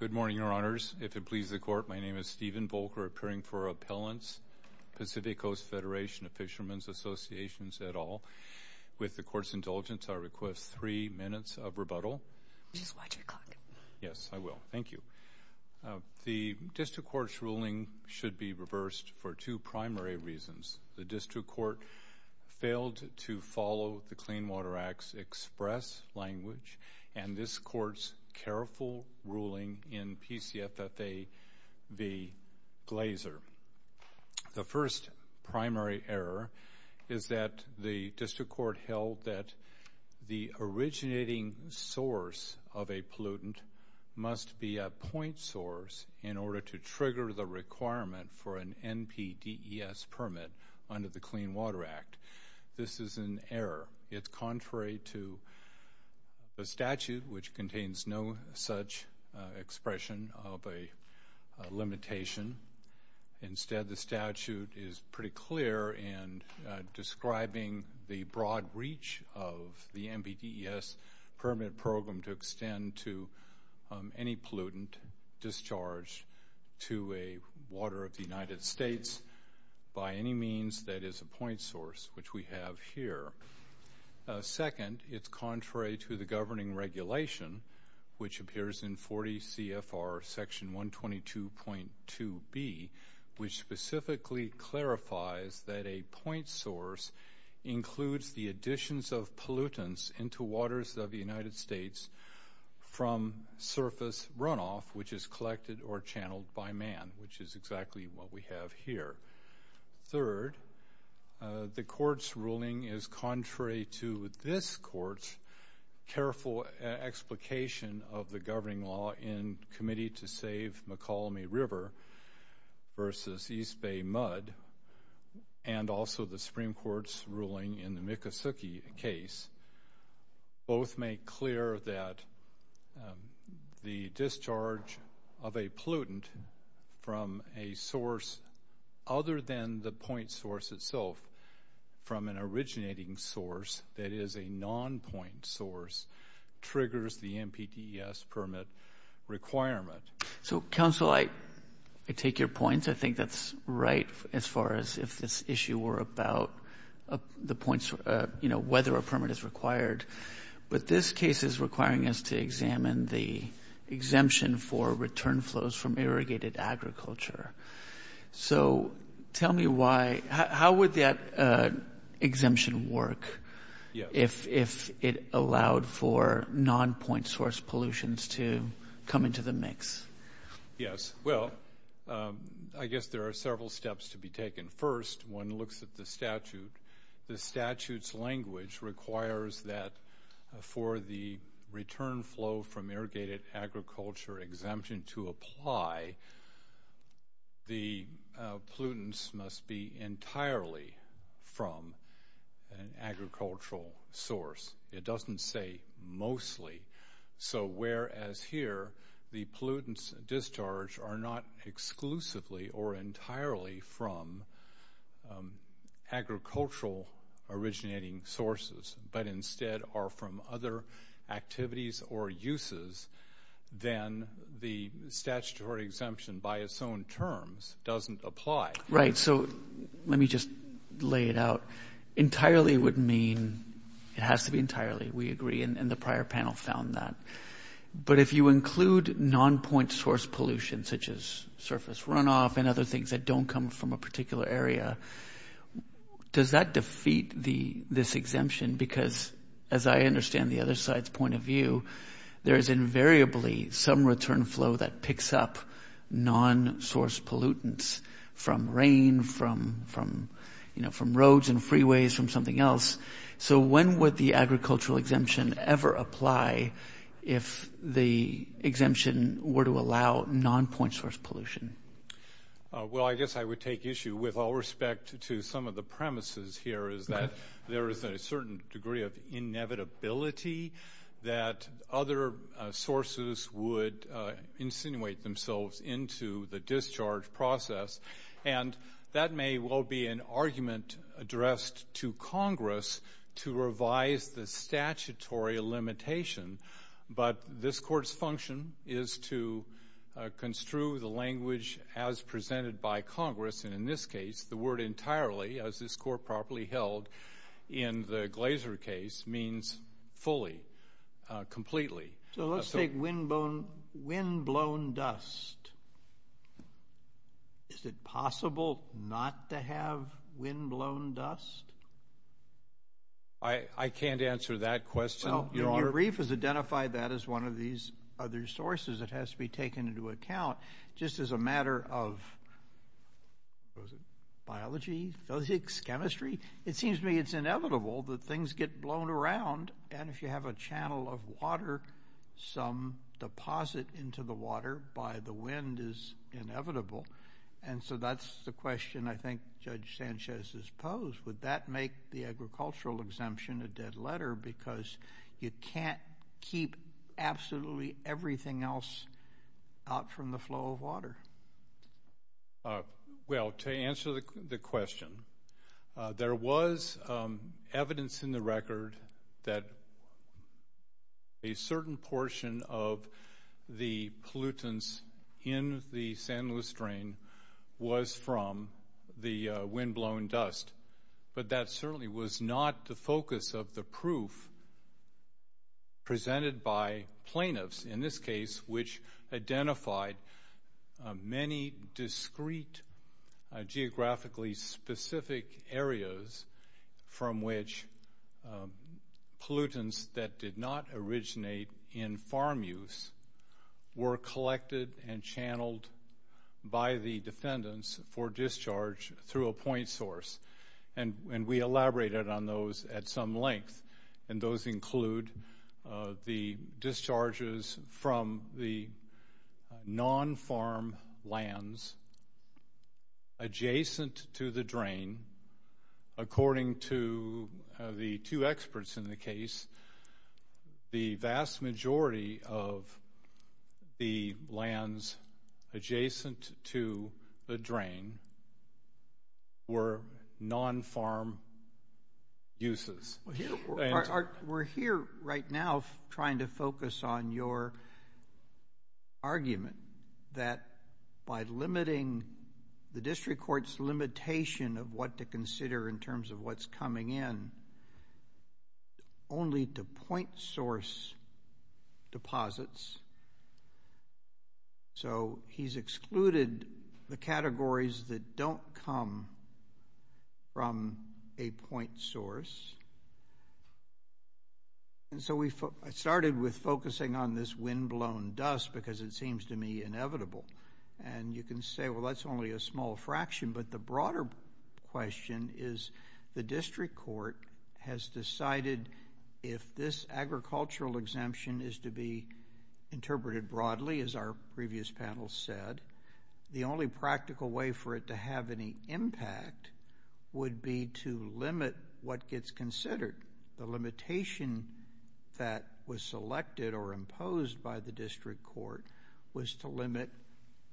Good morning, Your Honors. If it pleases the Court, my name is Stephen Volker, appearing for Appellants, Pacific Coast Federation of Fishermen's Associations et al. With the Court's indulgence, I request three minutes of rebuttal. Just watch your clock. Yes, I will. Thank you. The District Court's ruling should be reversed for two primary reasons. The District Court failed to follow the Clean Water Act's express language, and this Court's careful ruling in PCFFA v. Glazer. The first primary error is that the District Court held that the originating source of a pollutant must be a point source in order to trigger the requirement for an NPDES permit under the Clean Water Act. This is an error. It's contrary to the statute, which contains no such expression of a limitation. Instead, the statute is pretty clear in describing the broad reach of the NPDES permit program to extend to any pollutant discharged to a water of the United States by any means that is a point source, which we have here. Second, it's contrary to the governing regulation, which appears in 40 CFR section 122.2b, which specifically clarifies that a point source includes the additions of pollutants into waters of the United States from surface runoff, which is collected or channeled by man, which is exactly what we have here. Third, the Court's ruling is contrary to this Court's careful explication of the governing law in Committee to Save McCallum River v. East Bay Mud, and also the Supreme Court's ruling in the Miccosukee case. Both make clear that the discharge of a pollutant from a source other than the point source itself, from an originating source that is a non-point source, triggers the NPDES permit requirement. So, counsel, I take your point. I think that's right as far as if this issue were about the points, you know, whether a permit is required. But this case is requiring us to examine the exemption for return flows from irrigated agriculture. So tell me why. How would that exemption work if it allowed for non-point source pollutions to come into the mix? Yes, well, I guess there are several steps to be taken. First, one looks at the statute. The statute's language requires that for the return flow from irrigated agriculture exemption to apply, the pollutants must be entirely from an agricultural source. It doesn't say mostly. So whereas here the pollutants discharged are not exclusively or entirely from agricultural originating sources, but instead are from other activities or uses, then the statutory exemption by its own terms doesn't apply. Right. So let me just lay it out. Entirely would mean it has to be entirely. We agree, and the prior panel found that. But if you include non-point source pollution, such as surface runoff and other things that don't come from a particular area, does that defeat this exemption? Because as I understand the other side's point of view, there is invariably some return flow that picks up non-source pollutants from rain, from, you know, from roads and freeways, from something else. So when would the agricultural exemption ever apply if the exemption were to allow non-point source pollution? Well, I guess I would take issue with all respect to some of the premises here, is that there is a certain degree of inevitability that other sources would insinuate themselves into the discharge process. And that may well be an argument addressed to Congress to revise the statutory limitation. But this Court's function is to construe the language as presented by Congress. And in this case, the word entirely, as this Court properly held in the Glaser case, means fully, completely. So let's take windblown dust. Is it possible not to have windblown dust? I can't answer that question, Your Honor. Well, your brief has identified that as one of these other sources. It has to be taken into account. Just as a matter of biology, physics, chemistry, it seems to me it's inevitable that things get blown around. And if you have a channel of water, some deposit into the water by the wind is inevitable. And so that's the question I think Judge Sanchez has posed. Would that make the agricultural exemption a dead letter? Because you can't keep absolutely everything else out from the flow of water. Well, to answer the question, there was evidence in the record that a certain portion of the pollutants in the San Luis drain was from the windblown dust. But that certainly was not the focus of the proof presented by plaintiffs, in this case, which identified many discrete geographically specific areas from which pollutants that did not originate in farm use were collected and channeled by the defendants for discharge through a point source. And we elaborated on those at some length. And those include the discharges from the non-farm lands adjacent to the drain. According to the two experts in the case, the vast majority of the lands adjacent to the drain were non-farm uses. We're here right now trying to focus on your argument that by limiting the district court's limitation of what to consider in terms of what's coming in only to point source deposits, so he's excluded the categories that don't come from a point source. And so we started with focusing on this windblown dust because it seems to me inevitable. And you can say, well, that's only a small fraction. But the broader question is the district court has decided if this agricultural exemption is to be interpreted broadly, as our previous panel said, the only practical way for it to have any impact would be to limit what gets considered. The limitation that was selected or imposed by the district court was to limit,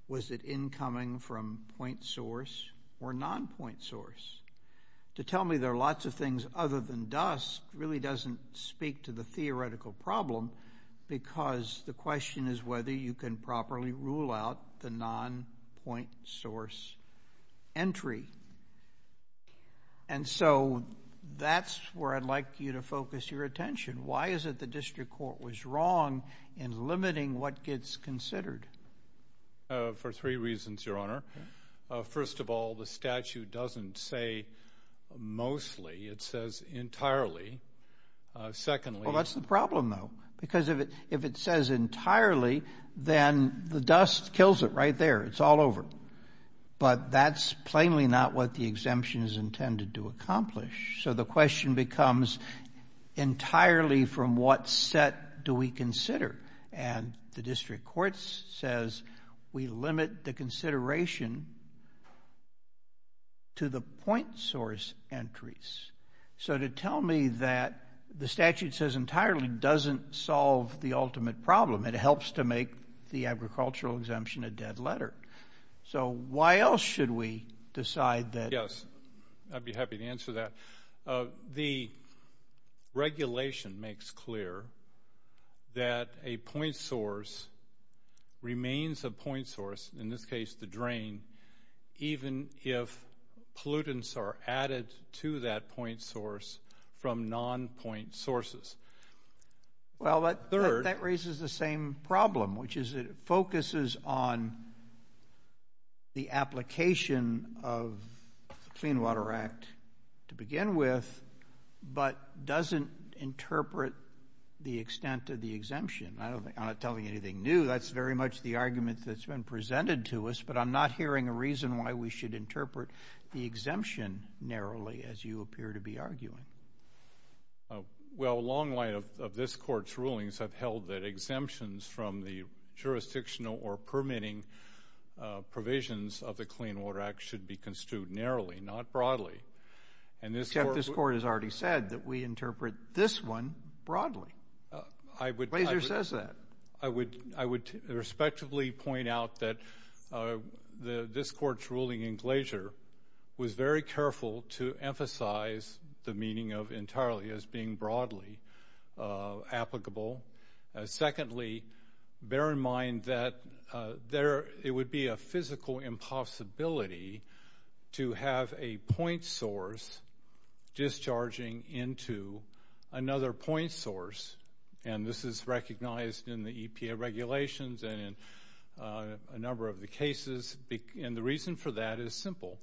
was it incoming from point source or non-point source? To tell me there are lots of things other than dust really doesn't speak to the theoretical problem because the question is whether you can properly rule out the non-point source entry. And so that's where I'd like you to focus your attention. Why is it the district court was wrong in limiting what gets considered? For three reasons, Your Honor. First of all, the statute doesn't say mostly. It says entirely. Secondly- Well, that's the problem, though, because if it says entirely, then the dust kills it right there. It's all over. But that's plainly not what the exemption is intended to accomplish. So the question becomes entirely from what set do we consider? And the district court says we limit the consideration to the point source entries. So to tell me that the statute says entirely doesn't solve the ultimate problem. It helps to make the agricultural exemption a dead letter. So why else should we decide that- Yes, I'd be happy to answer that. The regulation makes clear that a point source remains a point source, in this case the drain, even if pollutants are added to that point source from non-point sources. Well, that raises the same problem, which is it focuses on the application of the Clean Water Act to begin with but doesn't interpret the extent of the exemption. I'm not telling you anything new. That's very much the argument that's been presented to us, but I'm not hearing a reason why we should interpret the exemption narrowly, as you appear to be arguing. Well, a long line of this Court's rulings have held that exemptions from the jurisdictional or permitting provisions of the Clean Water Act should be construed narrowly, not broadly. Except this Court has already said that we interpret this one broadly. Glazer says that. I would respectfully point out that this Court's ruling in Glazer was very careful to emphasize the meaning of entirely as being broadly applicable. Secondly, bear in mind that it would be a physical impossibility to have a point source discharging into another point source, and this is recognized in the EPA regulations and in a number of the cases, and the reason for that is simple,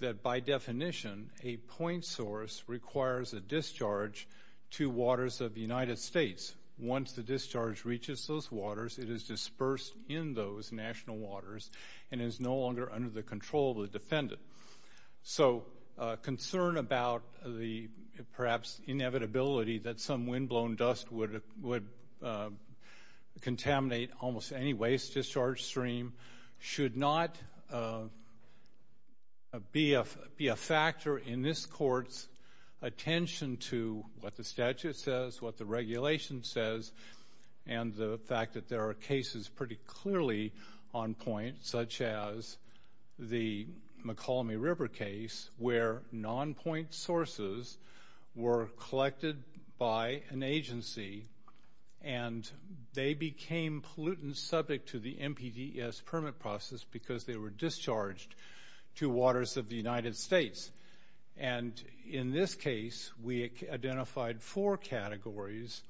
that by definition, a point source requires a discharge to waters of the United States. Once the discharge reaches those waters, it is dispersed in those national waters and is no longer under the control of the defendant. So concern about the perhaps inevitability that some windblown dust would contaminate almost any waste discharge stream should not be a factor in this Court's attention to what the statute says, what the regulation says, and the fact that there are cases pretty clearly on point, such as the McCallamy River case where non-point sources were collected by an agency and they became pollutants subject to the NPDES permit process because they were discharged to waters of the United States. And in this case, we identified four categories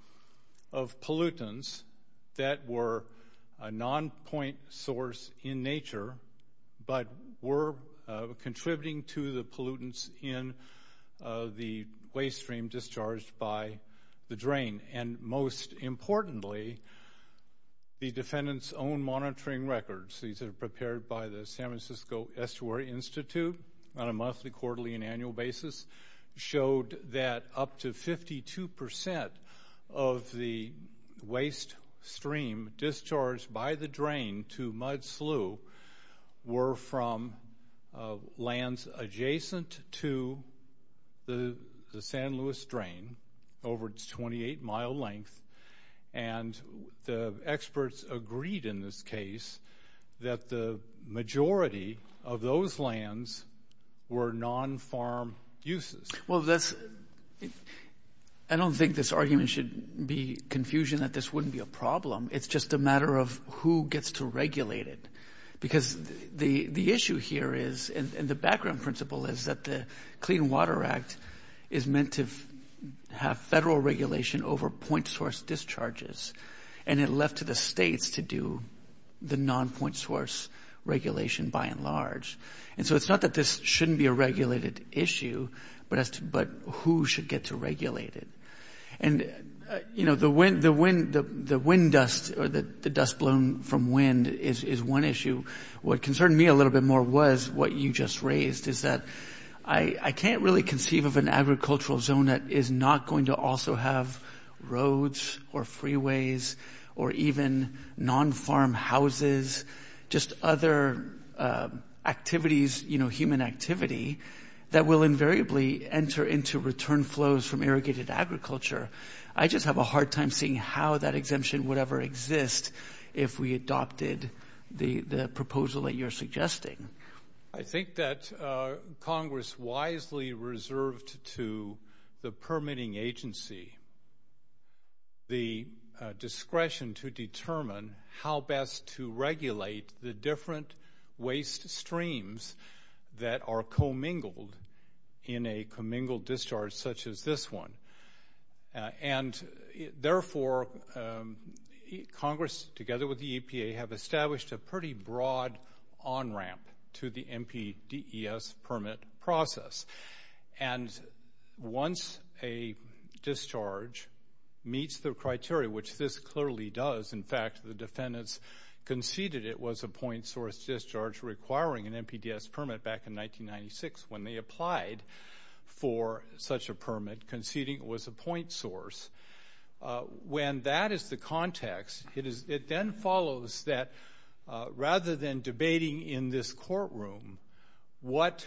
of pollutants that were a non-point source in nature but were contributing to the pollutants in the waste stream discharged by the drain. And most importantly, the defendant's own monitoring records, these are prepared by the San Francisco Estuary Institute on a monthly, quarterly, and annual basis, showed that up to 52% of the waste stream discharged by the drain to Mud Slough were from lands adjacent to the San Luis drain over its 28-mile length. And the experts agreed in this case that the majority of those lands were non-farm uses. Well, I don't think this argument should be confusion that this wouldn't be a problem. It's just a matter of who gets to regulate it. Because the issue here is, and the background principle is, that the Clean Water Act is meant to have federal regulation over point source discharges, and it left to the states to do the non-point source regulation by and large. And so it's not that this shouldn't be a regulated issue, but who should get to regulate it. And, you know, the wind dust or the dust blown from wind is one issue. What concerned me a little bit more was what you just raised, is that I can't really conceive of an agricultural zone that is not going to also have roads or freeways or even non-farm houses, just other activities, you know, human activity, that will invariably enter into return flows from irrigated agriculture. I just have a hard time seeing how that exemption would ever exist if we adopted the proposal that you're suggesting. I think that Congress wisely reserved to the permitting agency the discretion to determine how best to regulate the different waste streams that are commingled in a commingled discharge such as this one. And therefore, Congress, together with the EPA, have established a pretty broad on-ramp to the NPDES permit process. And once a discharge meets the criteria, which this clearly does, in fact, the defendants conceded it was a point source discharge requiring an NPDES permit back in 1996 when they applied for such a permit, conceding it was a point source. When that is the context, it then follows that rather than debating in this courtroom what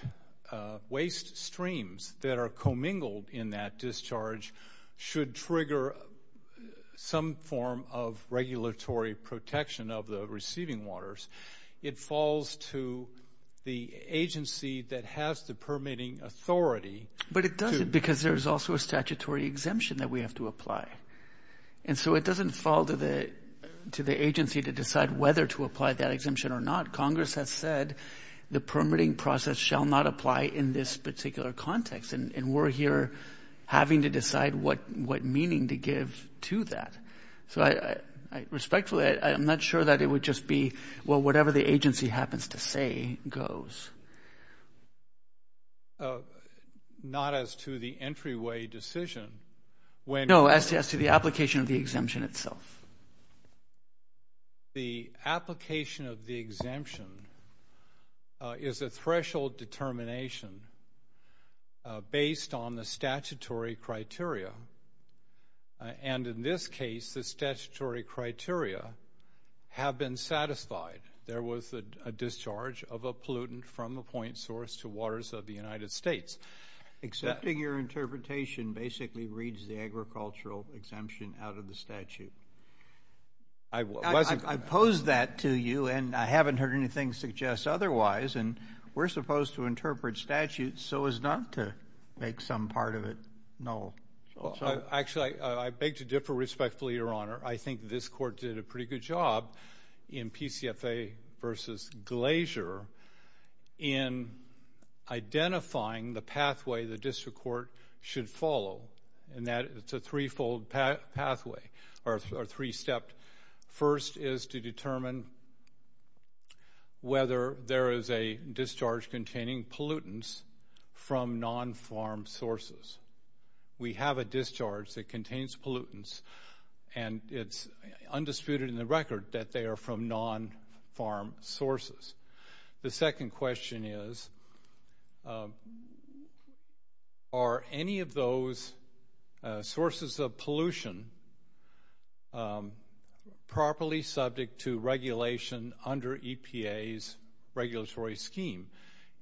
waste streams that are commingled in that discharge should trigger some form of regulatory protection of the receiving waters, it falls to the agency that has the permitting authority. But it doesn't because there's also a statutory exemption that we have to apply. And so it doesn't fall to the agency to decide whether to apply that exemption or not. Congress has said the permitting process shall not apply in this particular context, and we're here having to decide what meaning to give to that. So respectfully, I'm not sure that it would just be, well, whatever the agency happens to say goes. Not as to the entryway decision. No, as to the application of the exemption itself. The application of the exemption is a threshold determination based on the statutory criteria. And in this case, the statutory criteria have been satisfied. There was a discharge of a pollutant from a point source to waters of the United States. Accepting your interpretation basically reads the agricultural exemption out of the statute. I pose that to you, and I haven't heard anything suggest otherwise, and we're supposed to interpret statutes so as not to make some part of it null. Actually, I beg to differ respectfully, Your Honor. I think this court did a pretty good job in PCFA versus Glacier in identifying the pathway the district court should follow, and that it's a threefold pathway or three-stepped. First is to determine whether there is a discharge containing pollutants from non-farm sources. We have a discharge that contains pollutants, and it's undisputed in the record that they are from non-farm sources. The second question is, are any of those sources of pollution properly subject to regulation under EPA's regulatory scheme?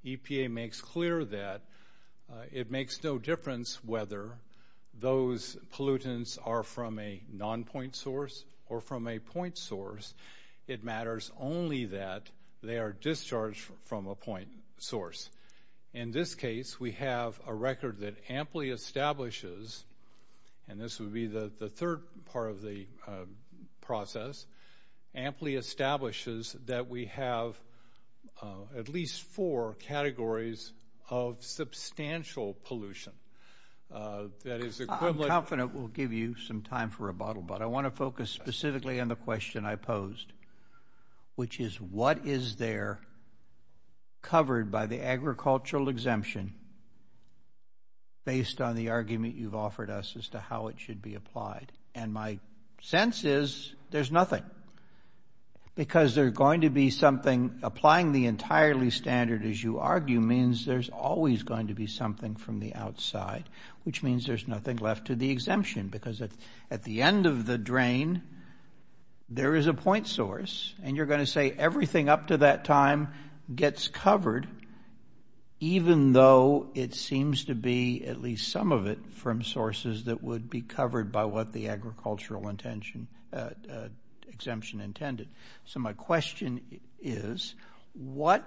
EPA makes clear that it makes no difference whether those pollutants are from a non-point source or from a point source. It matters only that they are discharged from a point source. In this case, we have a record that amply establishes, and this would be the third part of the process, amply establishes that we have at least four categories of substantial pollution. I'm confident we'll give you some time for rebuttal, but I want to focus specifically on the question I posed, which is what is there covered by the agricultural exemption based on the argument you've offered us as to how it should be applied? And my sense is there's nothing, because there's going to be something applying the entirely standard, as you argue, means there's always going to be something from the outside, which means there's nothing left to the exemption, because at the end of the drain, there is a point source, and you're going to say everything up to that time gets covered, even though it seems to be at least some of it from sources that would be covered by what the agricultural exemption intended. So my question is what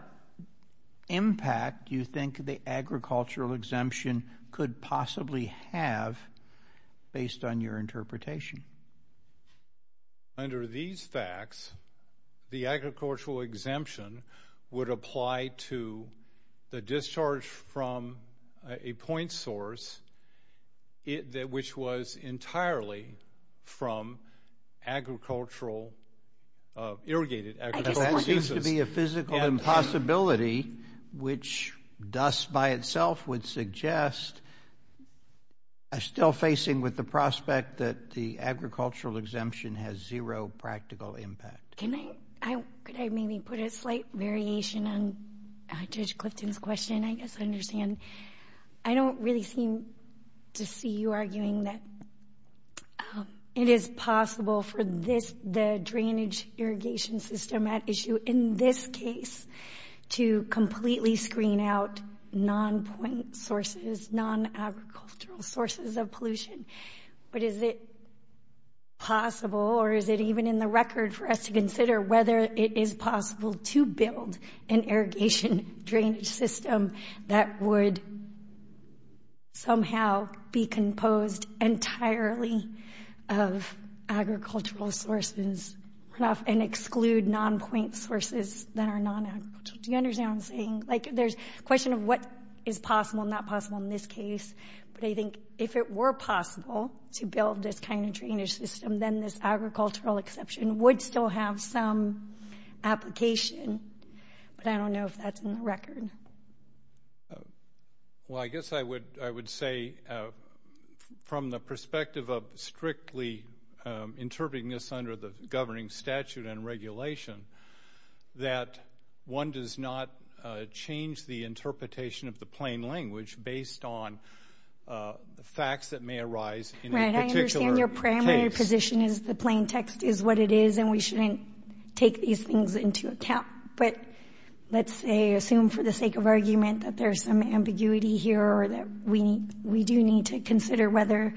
impact do you think the agricultural exemption could possibly have based on your interpretation? Under these facts, the agricultural exemption would apply to the discharge from a point source which was entirely from irrigated agricultural uses. That seems to be a physical impossibility, which thus by itself would suggest, I'm still facing with the prospect that the agricultural exemption has zero practical impact. Could I maybe put a slight variation on Judge Clifton's question? I guess I understand. I don't really seem to see you arguing that it is possible for this, the drainage irrigation system at issue in this case, to completely screen out non-point sources, non-agricultural sources of pollution. But is it possible, or is it even in the record for us to consider whether it is possible to build an irrigation drainage system that would somehow be composed entirely of agricultural sources and exclude non-point sources that are non-agricultural? Do you understand what I'm saying? Like there's a question of what is possible and not possible in this case. But I think if it were possible to build this kind of drainage system, then this agricultural exception would still have some application. But I don't know if that's in the record. Well, I guess I would say from the perspective of strictly interpreting this under the governing statute and regulation that one does not change the interpretation of the plain language based on the facts that may arise in a particular case. The exception is the plain text is what it is, and we shouldn't take these things into account. But let's say, assume for the sake of argument that there's some ambiguity here or that we do need to consider whether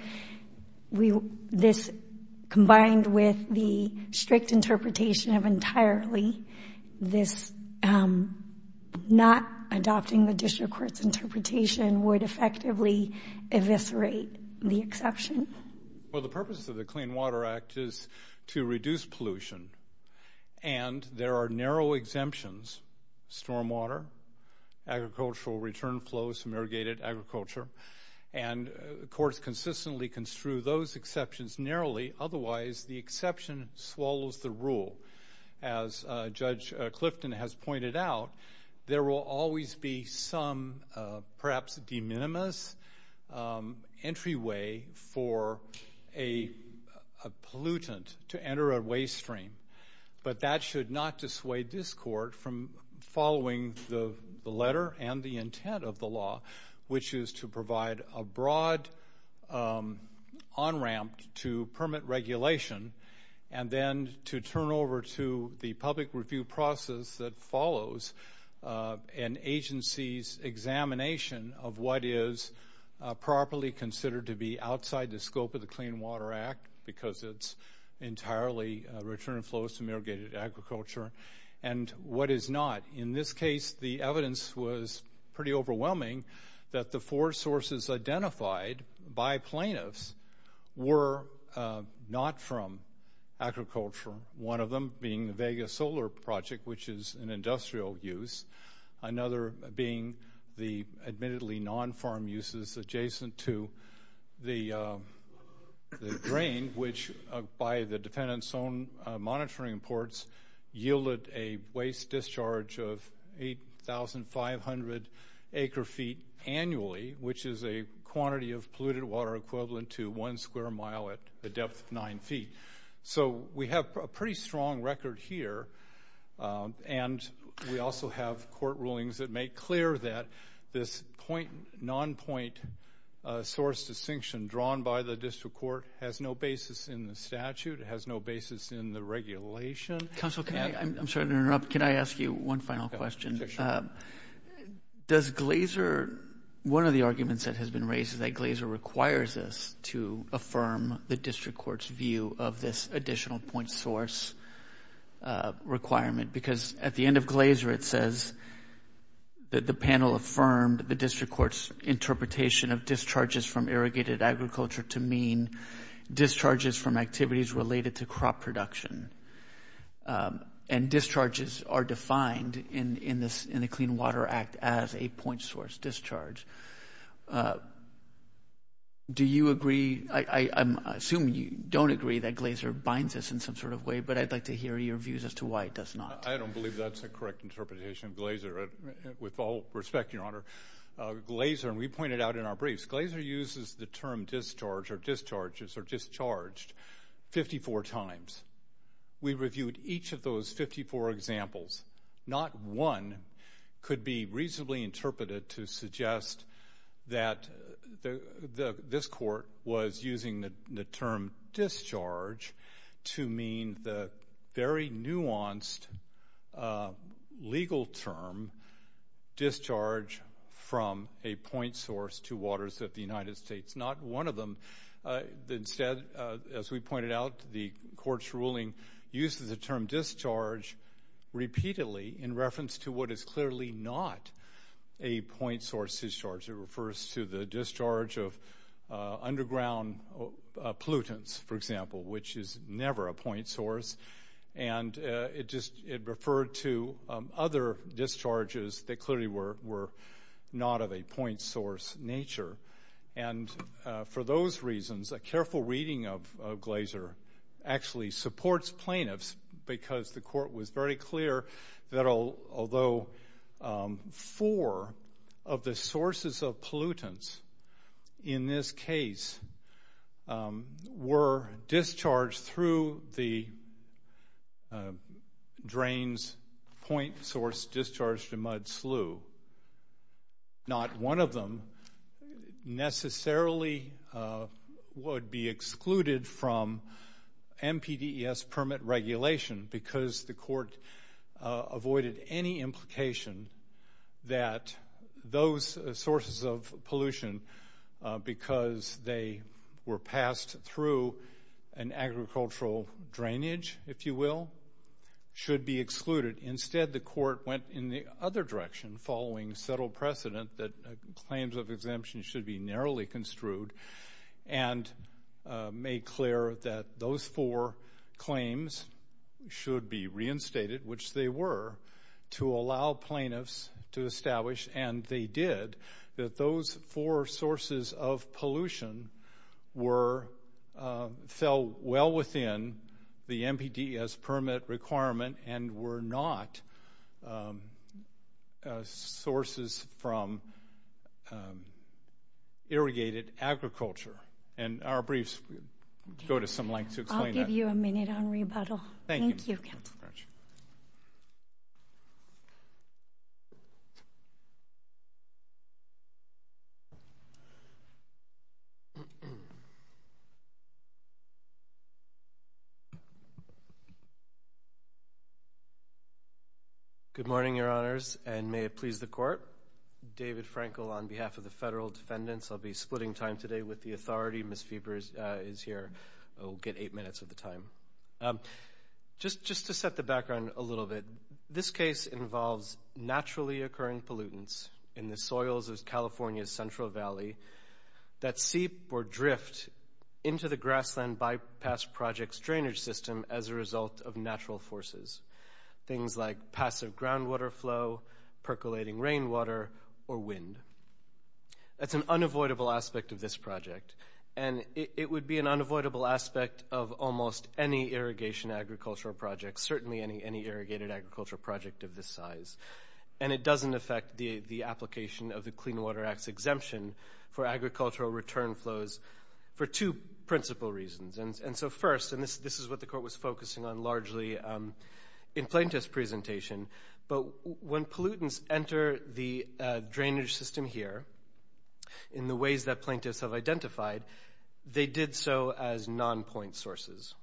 this combined with the strict interpretation of entirely this not adopting the district court's interpretation would effectively eviscerate the exception. Well, the purpose of the Clean Water Act is to reduce pollution, and there are narrow exemptions, stormwater, agricultural return flows, some irrigated agriculture, and courts consistently construe those exceptions narrowly. Otherwise, the exception swallows the rule. As Judge Clifton has pointed out, there will always be some perhaps de minimis entryway for a pollutant to enter a waste stream, but that should not dissuade this court from following the letter and the intent of the law, which is to provide a broad on-ramp to permit regulation and then to turn over to the public review process that follows an agency's examination of what is properly considered to be outside the scope of the Clean Water Act because it's entirely return flows to irrigated agriculture and what is not. In this case, the evidence was pretty overwhelming that the four sources identified by plaintiffs were not from agriculture, one of them being the Vega Solar Project, which is an industrial use, another being the admittedly non-farm uses adjacent to the drain, which by the defendant's own monitoring reports yielded a waste discharge of 8,500 acre-feet annually, which is a quantity of polluted water equivalent to one square mile at the depth of nine feet. So we have a pretty strong record here, and we also have court rulings that make clear that this non-point source distinction drawn by the district court has no basis in the statute, has no basis in the regulation. Counsel, I'm sorry to interrupt. Can I ask you one final question? Sure. Does Glaser, one of the arguments that has been raised is that Glaser requires us to affirm the district court's view of this additional point source requirement because at the end of Glaser it says that the panel affirmed the district court's interpretation of discharges from irrigated agriculture to mean discharges from activities related to crop production, and discharges are defined in the Clean Water Act as a point source discharge. Do you agree? I assume you don't agree that Glaser binds us in some sort of way, but I'd like to hear your views as to why it does not. I don't believe that's a correct interpretation of Glaser. With all respect, Your Honor, Glaser, and we pointed out in our briefs, Glaser uses the term discharge or discharges or discharged 54 times. We reviewed each of those 54 examples. Not one could be reasonably interpreted to suggest that this court was using the term discharge to mean the very nuanced legal term discharge from a point source to waters of the United States. Not one of them. Instead, as we pointed out, the court's ruling uses the term discharge repeatedly in reference to what is clearly not a point source discharge. It refers to the discharge of underground pollutants, for example, which is never a point source, and it referred to other discharges that clearly were not of a point source nature. And for those reasons, a careful reading of Glaser actually supports plaintiffs because the court was very clear that although four of the sources of pollutants in this case were discharged through the drain's point source discharge to mud slough, not one of them necessarily would be excluded from MPDES permit regulation because the court avoided any implication that those sources of pollution, because they were passed through an agricultural drainage, if you will, should be excluded. Instead, the court went in the other direction following settled precedent that claims of exemption should be narrowly construed and made clear that those four claims should be reinstated, which they were, to allow plaintiffs to establish, and they did, that those four sources of pollution fell well within the MPDES permit requirement and were not sources from irrigated agriculture. And our briefs go to some length to explain that. I'll give you a minute on rebuttal. Thank you. Good morning, Your Honors, and may it please the Court. David Frankel on behalf of the federal defendants. I'll be splitting time today with the authority. Ms. Feber is here. We'll get eight minutes of the time. Just to set the background a little bit, this case involves naturally occurring pollutants in the soils of California's Central Valley that seep or drift into the Grassland Bypass Project's drainage system as a result of natural forces, things like passive groundwater flow, percolating rainwater, or wind. That's an unavoidable aspect of this project, and it would be an unavoidable aspect of almost any irrigation agricultural project, certainly any irrigated agricultural project of this size, and it doesn't affect the application of the Clean Water Act's exemption for agricultural return flows for two principal reasons. And so first, and this is what the Court was focusing on largely in Plaintiff's presentation, but when pollutants enter the drainage system here in the ways that plaintiffs have identified, they did so as non-point sources.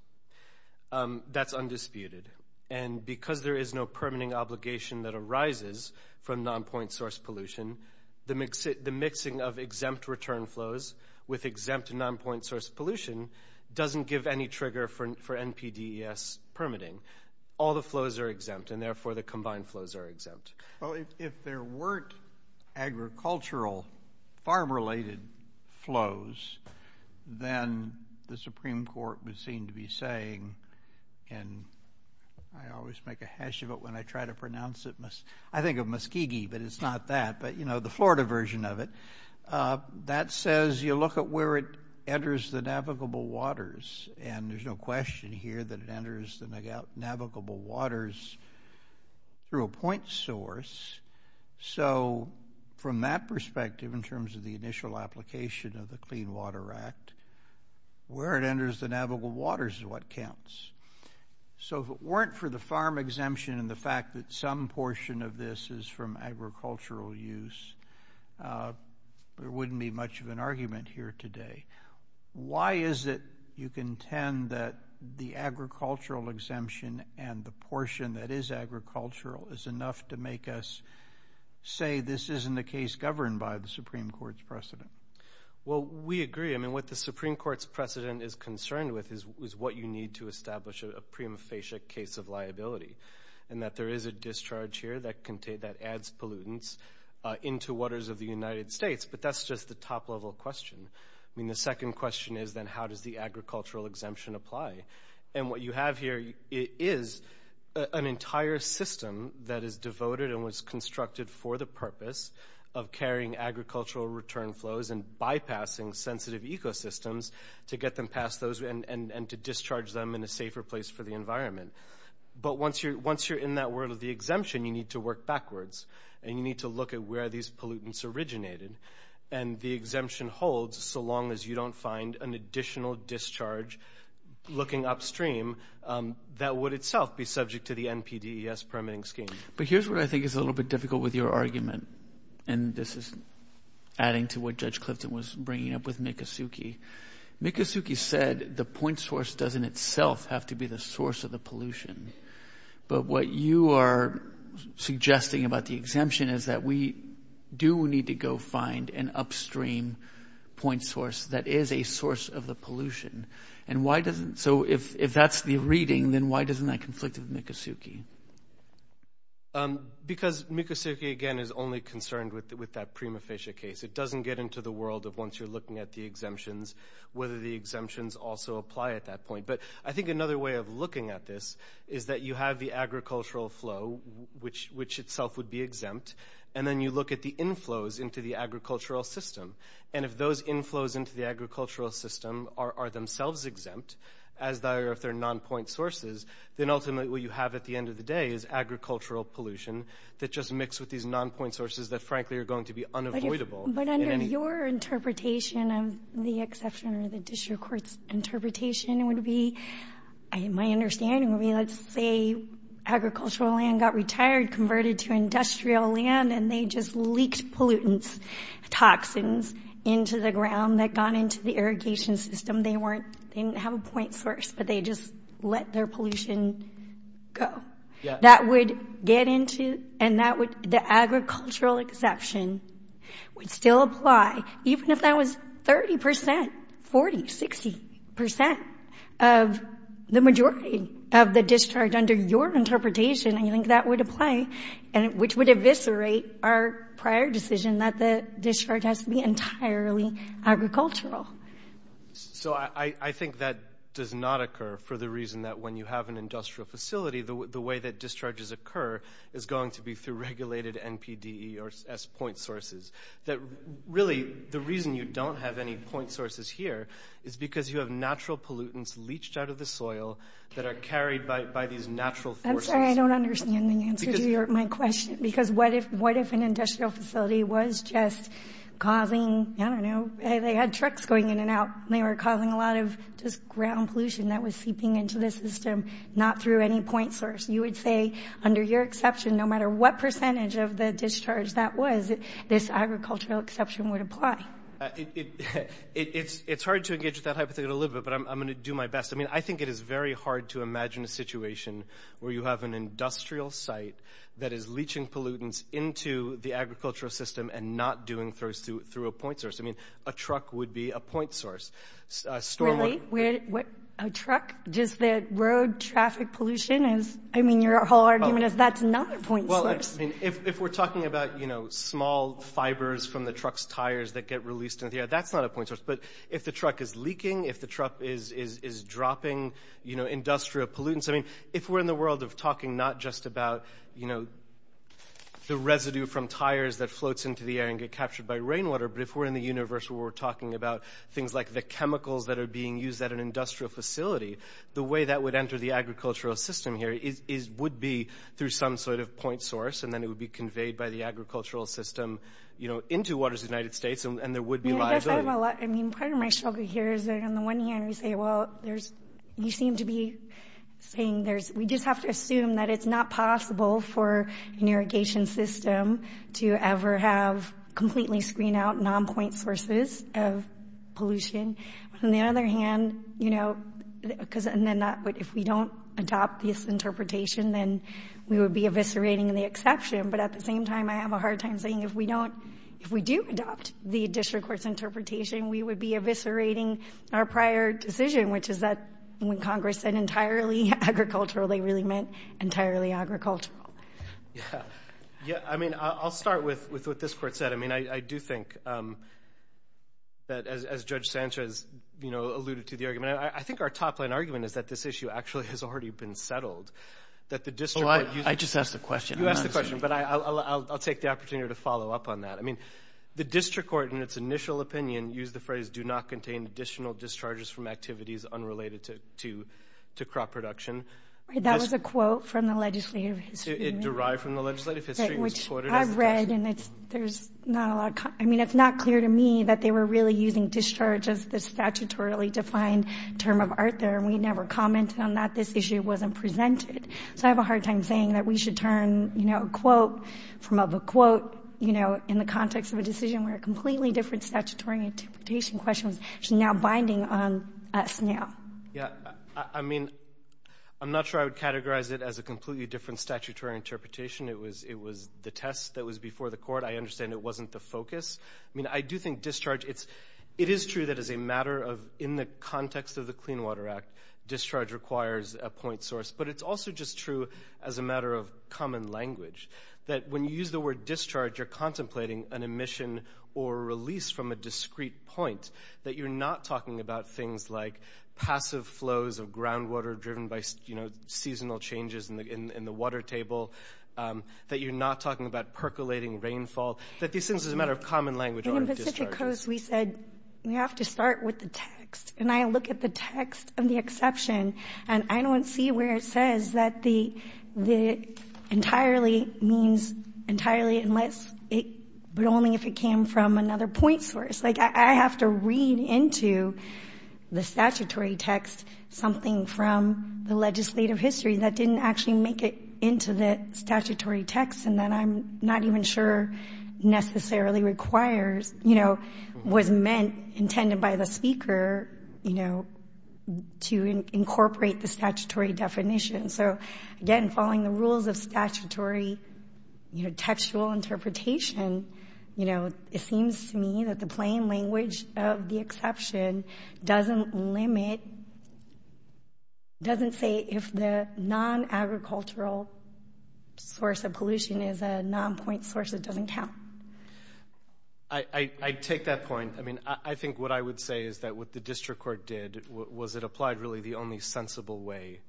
That's undisputed. And because there is no permitting obligation that arises from non-point source pollution, the mixing of exempt return flows with exempt non-point source pollution doesn't give any trigger for NPDES permitting. All the flows are exempt, and therefore the combined flows are exempt. Well, if there weren't agricultural farm-related flows, then the Supreme Court would seem to be saying, and I always make a hash of it when I try to pronounce it, I think of Muskegee, but it's not that, but, you know, the Florida version of it, that says you look at where it enters the navigable waters, and there's no question here that it enters the navigable waters through a point source. So from that perspective, in terms of the initial application of the Clean Water Act, where it enters the navigable waters is what counts. So if it weren't for the farm exemption and the fact that some portion of this is from agricultural use, there wouldn't be much of an argument here today. Why is it you contend that the agricultural exemption and the portion that is agricultural is enough to make us say this isn't a case governed by the Supreme Court's precedent? Well, we agree. I mean, what the Supreme Court's precedent is concerned with is what you need to establish a prima facie case of liability, and that there is a discharge here that adds pollutants into waters of the United States, but that's just the top-level question. I mean, the second question is, then, how does the agricultural exemption apply? And what you have here is an entire system that is devoted and was constructed for the purpose of carrying agricultural return flows and bypassing sensitive ecosystems to get them past those and to discharge them in a safer place for the environment. But once you're in that world of the exemption, you need to work backwards, and you need to look at where these pollutants originated. And the exemption holds so long as you don't find an additional discharge looking upstream that would itself be subject to the NPDES permitting scheme. But here's where I think it's a little bit difficult with your argument, and this is adding to what Judge Clifton was bringing up with Mikosuke. Mikosuke said the point source doesn't itself have to be the source of the pollution. But what you are suggesting about the exemption is that we do need to go find an upstream point source that is a source of the pollution. So if that's the reading, then why doesn't that conflict with Mikosuke? Because Mikosuke, again, is only concerned with that prima facie case. It doesn't get into the world of once you're looking at the exemptions, whether the exemptions also apply at that point. But I think another way of looking at this is that you have the agricultural flow, which itself would be exempt, and then you look at the inflows into the agricultural system. And if those inflows into the agricultural system are themselves exempt, as they are if they're non-point sources, then ultimately what you have at the end of the day is agricultural pollution that just mix with these non-point sources that, frankly, are going to be unavoidable. But under your interpretation of the exception or the district court's interpretation would be, my understanding would be let's say agricultural land got retired, converted to industrial land, and they just leaked pollutants, toxins, into the ground that got into the irrigation system. They didn't have a point source, but they just let their pollution go. Yes. That would get into and that would the agricultural exception would still apply, even if that was 30 percent, 40, 60 percent of the majority of the discharge under your interpretation. I think that would apply, which would eviscerate our prior decision that the discharge has to be entirely agricultural. So I think that does not occur for the reason that when you have an industrial facility, the way that discharges occur is going to be through regulated NPDES point sources. Really, the reason you don't have any point sources here is because you have natural pollutants leached out of the soil that are carried by these natural forces. I'm sorry, I don't understand the answer to my question, because what if an industrial facility was just causing, I don't know, they had trucks going in and out, and they were causing a lot of just ground pollution that was seeping into the system, not through any point source. You would say under your exception, no matter what percentage of the discharge that was, this agricultural exception would apply. It's hard to engage with that hypothetical a little bit, but I'm going to do my best. I mean, I think it is very hard to imagine a situation where you have an industrial site that is leaching pollutants into the agricultural system and not doing so through a point source. I mean, a truck would be a point source. Really? A truck? Just the road traffic pollution? I mean, your whole argument is that's not a point source. Well, I mean, if we're talking about, you know, small fibers from the truck's tires that get released into the air, that's not a point source. But if the truck is leaking, if the truck is dropping, you know, industrial pollutants, I mean, if we're in the world of talking not just about, you know, the residue from tires that floats into the air and get captured by rainwater, but if we're in the universe where we're talking about things like the chemicals that are being used at an industrial facility, the way that would enter the agricultural system here would be through some sort of point source, and then it would be conveyed by the agricultural system, you know, into waters of the United States, and there would be liability. Yeah, I guess I have a lot. I mean, part of my struggle here is that on the one hand, we say, well, there's – you seem to be saying there's – we just have to assume that it's not possible for an irrigation system to ever have completely screened out non-point sources of pollution. On the other hand, you know, because – and then not – but if we don't adopt this interpretation, then we would be eviscerating the exception. But at the same time, I have a hard time saying if we don't – if we do adopt the district court's interpretation, we would be eviscerating our prior decision, which is that when Congress said entirely agricultural, they really meant entirely agricultural. Yeah. Yeah, I mean, I'll start with what this court said. I mean, I do think that, as Judge Sanchez, you know, alluded to the argument, I think our top-line argument is that this issue actually has already been settled, that the district court – I just asked a question. You asked the question, but I'll take the opportunity to follow up on that. I mean, the district court, in its initial opinion, used the phrase that do not contain additional discharges from activities unrelated to crop production. That was a quote from the legislative history. It derived from the legislative history. Which I read, and it's – there's not a lot of – I mean, it's not clear to me that they were really using discharge as the statutorily defined term of art there, and we never commented on that. This issue wasn't presented. So I have a hard time saying that we should turn, you know, a quote from a quote, you know, in the context of a decision where a completely different statutory interpretation question was actually now binding on us now. Yeah. I mean, I'm not sure I would categorize it as a completely different statutory interpretation. It was the test that was before the court. I understand it wasn't the focus. I mean, I do think discharge – it is true that as a matter of – in the context of the Clean Water Act, discharge requires a point source, but it's also just true as a matter of common language, that when you use the word discharge, you're contemplating an emission or a release from a discrete point, that you're not talking about things like passive flows of groundwater driven by, you know, seasonal changes in the water table, that you're not talking about percolating rainfall, that these things as a matter of common language aren't discharges. In the Pacific Coast, we said we have to start with the text, and I look at the text of the exception, and I don't see where it says that the entirely means entirely unless it – but only if it came from another point source. Like, I have to read into the statutory text something from the legislative history that didn't actually make it into the statutory text and that I'm not even sure necessarily requires, you know, was meant, intended by the speaker, you know, to incorporate the statutory definition. So, again, following the rules of statutory, you know, textual interpretation, you know, it seems to me that the plain language of the exception doesn't limit – doesn't say if the non-agricultural source of pollution is a non-point source, it doesn't count. I take that point. I mean, I think what I would say is that what the district court did was it applied really the only sensible way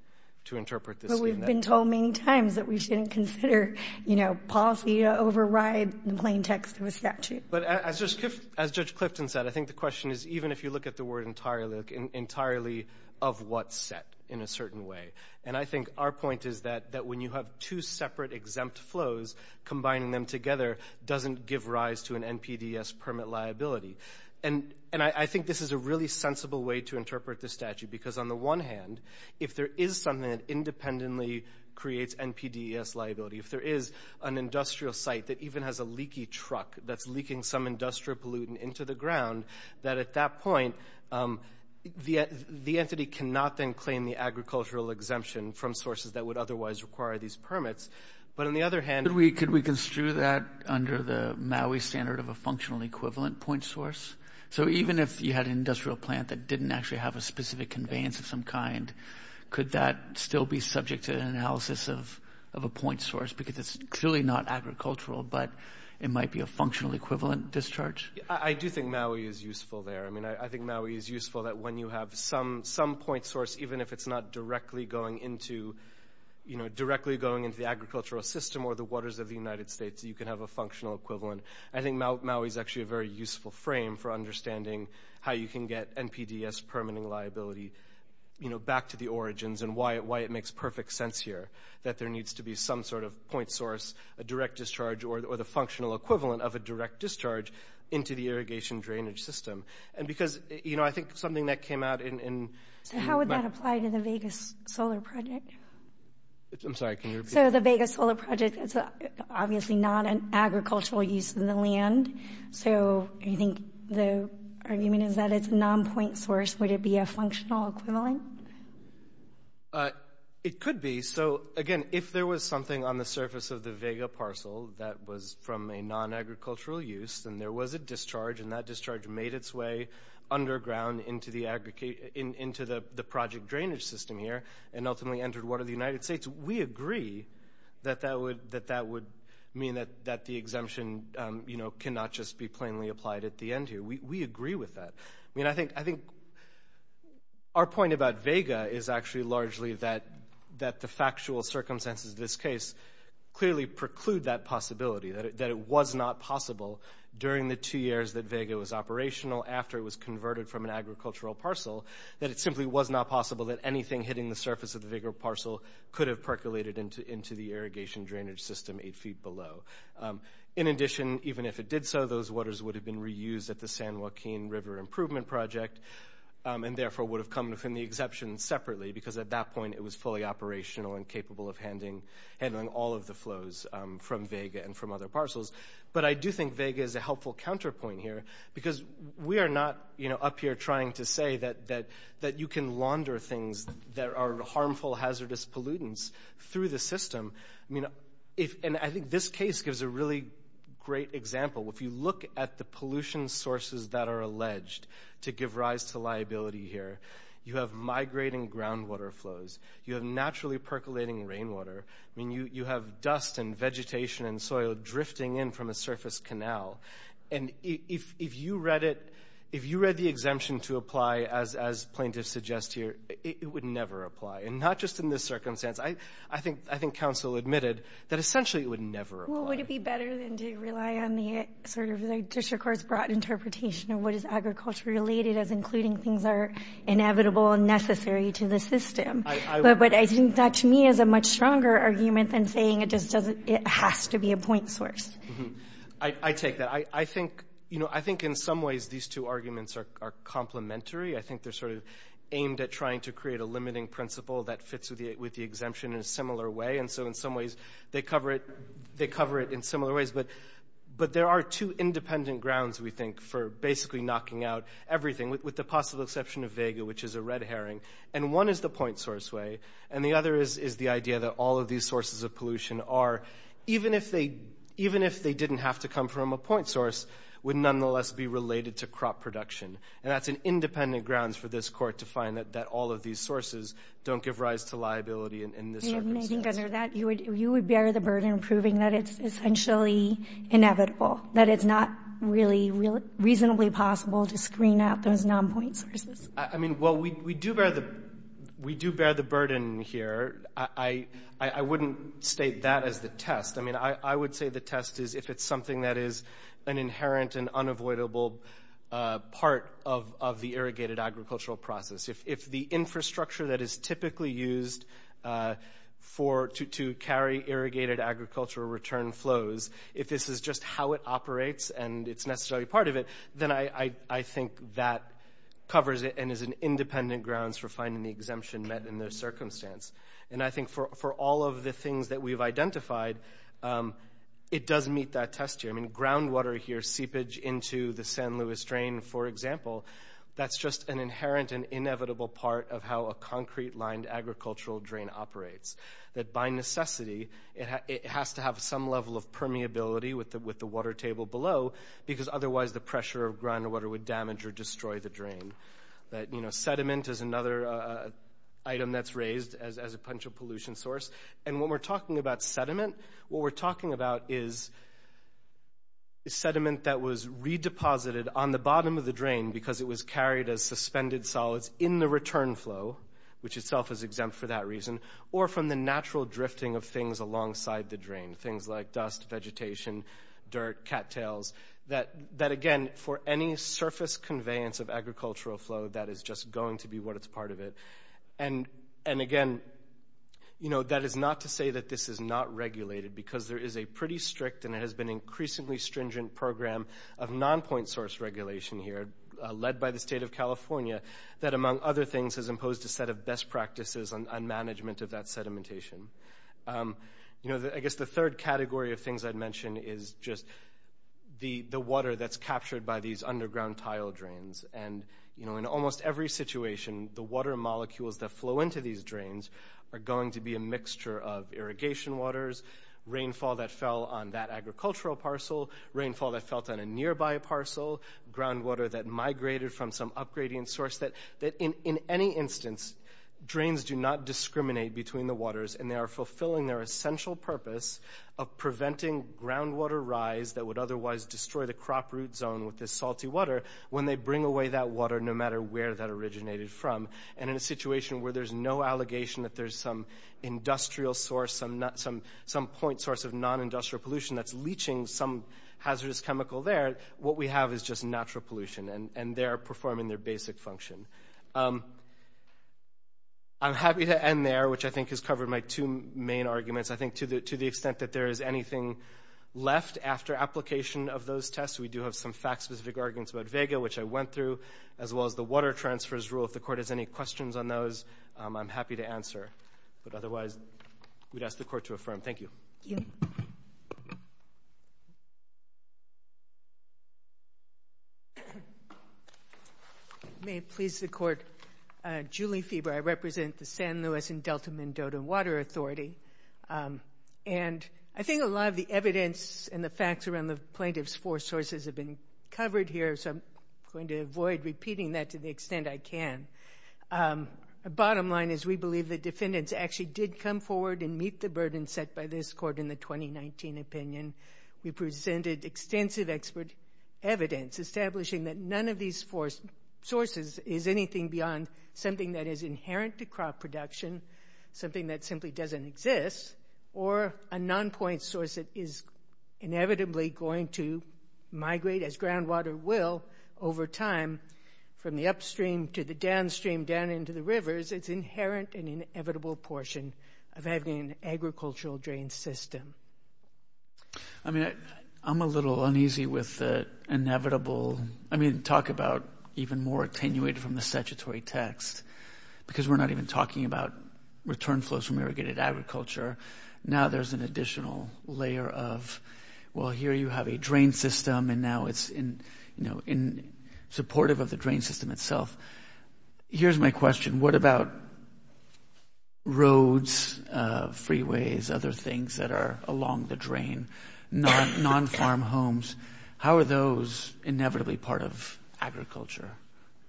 to interpret this scheme. But we've been told many times that we shouldn't consider, you know, policy to override the plain text of a statute. But as Judge Clifton said, I think the question is even if you look at the word entirely of what's set in a certain way. And I think our point is that when you have two separate exempt flows, combining them together doesn't give rise to an NPDES permit liability. And I think this is a really sensible way to interpret the statute because on the one hand, if there is something that independently creates NPDES liability, if there is an industrial site that even has a leaky truck that's leaking some industrial pollutant into the ground, that at that point, the entity cannot then claim the agricultural exemption from sources that would otherwise require these permits. But on the other hand — Could we construe that under the MAUI standard of a functional equivalent point source? So even if you had an industrial plant that didn't actually have a specific conveyance of some kind, could that still be subject to analysis of a point source because it's clearly not agricultural, but it might be a functional equivalent discharge? I do think MAUI is useful there. I mean, I think MAUI is useful that when you have some point source, even if it's not directly going into the agricultural system or the waters of the United States, you can have a functional equivalent. I think MAUI is actually a very useful frame for understanding how you can get NPDES permitting liability back to the origins and why it makes perfect sense here that there needs to be some sort of point source, a direct discharge or the functional equivalent of a direct discharge into the irrigation drainage system. And because, you know, I think something that came out in — So how would that apply to the Vegas Solar Project? I'm sorry, can you repeat? So the Vegas Solar Project is obviously not an agricultural use in the land. So you think the argument is that it's a non-point source. Would it be a functional equivalent? It could be. So, again, if there was something on the surface of the Vega parcel that was from a non-agricultural use and there was a discharge and that discharge made its way underground into the project drainage system here and ultimately entered water of the United States, we agree that that would mean that the exemption, you know, cannot just be plainly applied at the end here. We agree with that. I mean, I think our point about Vega is actually largely that the factual circumstances of this case clearly preclude that possibility, that it was not possible during the two years that Vega was operational after it was converted from an agricultural parcel, that it simply was not possible that anything hitting the surface of the Vega parcel could have percolated into the irrigation drainage system eight feet below. In addition, even if it did so, those waters would have been reused at the San Joaquin River Improvement Project and therefore would have come within the exemption separately because at that point it was fully operational and capable of handling all of the flows from Vega and from other parcels. But I do think Vega is a helpful counterpoint here because we are not up here trying to say that you can launder things that are harmful hazardous pollutants through the system. I mean, and I think this case gives a really great example. If you look at the pollution sources that are alleged to give rise to liability here, you have migrating groundwater flows. You have naturally percolating rainwater. I mean, you have dust and vegetation and soil drifting in from a surface canal. And if you read it, if you read the exemption to apply as plaintiffs suggest here, it would never apply. And not just in this circumstance. I think council admitted that essentially it would never apply. Well, would it be better than to rely on the sort of district court's broad interpretation of what is agriculture related as including things that are inevitable and necessary to the system? But I think that to me is a much stronger argument than saying it has to be a point source. I take that. I think in some ways these two arguments are complementary. I think they're sort of aimed at trying to create a limiting principle that fits with the exemption in a similar way. And so in some ways they cover it in similar ways. But there are two independent grounds, we think, for basically knocking out everything, with the possible exception of vega, which is a red herring. And one is the point source way. And the other is the idea that all of these sources of pollution are, even if they didn't have to come from a point source, would nonetheless be related to crop production. And that's an independent grounds for this Court to find that all of these sources don't give rise to liability in this circumstance. I think under that you would bear the burden of proving that it's essentially inevitable, that it's not really reasonably possible to screen out those non-point sources. I mean, well, we do bear the burden here. I wouldn't state that as the test. I mean, I would say the test is if it's something that is an inherent and unavoidable part of the irrigated agricultural process. If the infrastructure that is typically used to carry irrigated agricultural return flows, if this is just how it operates and it's necessarily part of it, then I think that covers it and is an independent grounds for finding the exemption met in this circumstance. And I think for all of the things that we've identified, it does meet that test here. I mean, groundwater here, seepage into the San Luis drain, for example, that's just an inherent and inevitable part of how a concrete-lined agricultural drain operates, that by necessity it has to have some level of permeability with the water table below because otherwise the pressure of groundwater would damage or destroy the drain. Sediment is another item that's raised as a potential pollution source. And when we're talking about sediment, what we're talking about is sediment that was redeposited on the bottom of the drain because it was carried as suspended solids in the return flow, which itself is exempt for that reason, or from the natural drifting of things alongside the drain, things like dust, vegetation, dirt, cattails, that, again, for any surface conveyance of agricultural flow, that is just going to be what is part of it. And, again, that is not to say that this is not regulated because there is a pretty strict and it has been increasingly stringent program of non-point source regulation here led by the state of California that, among other things, has imposed a set of best practices on management of that sedimentation. I guess the third category of things I'd mention is just the water that's captured by these underground tile drains. And in almost every situation, the water molecules that flow into these drains are going to be a mixture of irrigation waters, rainfall that fell on that agricultural parcel, rainfall that fell on a nearby parcel, groundwater that migrated from some up-gradient source, that in any instance, drains do not discriminate between the waters and they are fulfilling their essential purpose of preventing groundwater rise that would otherwise destroy the crop root zone with this salty water when they bring away that water no matter where that originated from. And in a situation where there's no allegation that there's some industrial source, some point source of non-industrial pollution that's leaching some hazardous chemical there, what we have is just natural pollution and they're performing their basic function. I'm happy to end there, which I think has covered my two main arguments. I think to the extent that there is anything left after application of those tests, we do have some fact-specific arguments about vega, which I went through, as well as the water transfers rule. If the court has any questions on those, I'm happy to answer. But otherwise, we'd ask the court to affirm. Thank you. Thank you. May it please the court. Julie Fieber, I represent the San Luis and Delta Mendoza Water Authority. And I think a lot of the evidence and the facts around the plaintiff's four sources have been covered here, so I'm going to avoid repeating that to the extent I can. The bottom line is we believe the defendants actually did come forward and meet the burden set by this court in the 2019 opinion. We presented extensive expert evidence establishing that none of these four sources is anything beyond something that is inherent to crop production, something that simply doesn't exist, or a non-point source that is inevitably going to migrate, as groundwater will over time from the upstream to the downstream down into the rivers. It's inherent and inevitable portion of having an agricultural drain system. I mean, I'm a little uneasy with the inevitable. I mean, talk about even more attenuated from the statutory text, because we're not even talking about return flows from irrigated agriculture. Now there's an additional layer of, well, here you have a drain system, and now it's supportive of the drain system itself. Here's my question. What about roads, freeways, other things that are along the drain, non-farm homes? How are those inevitably part of agriculture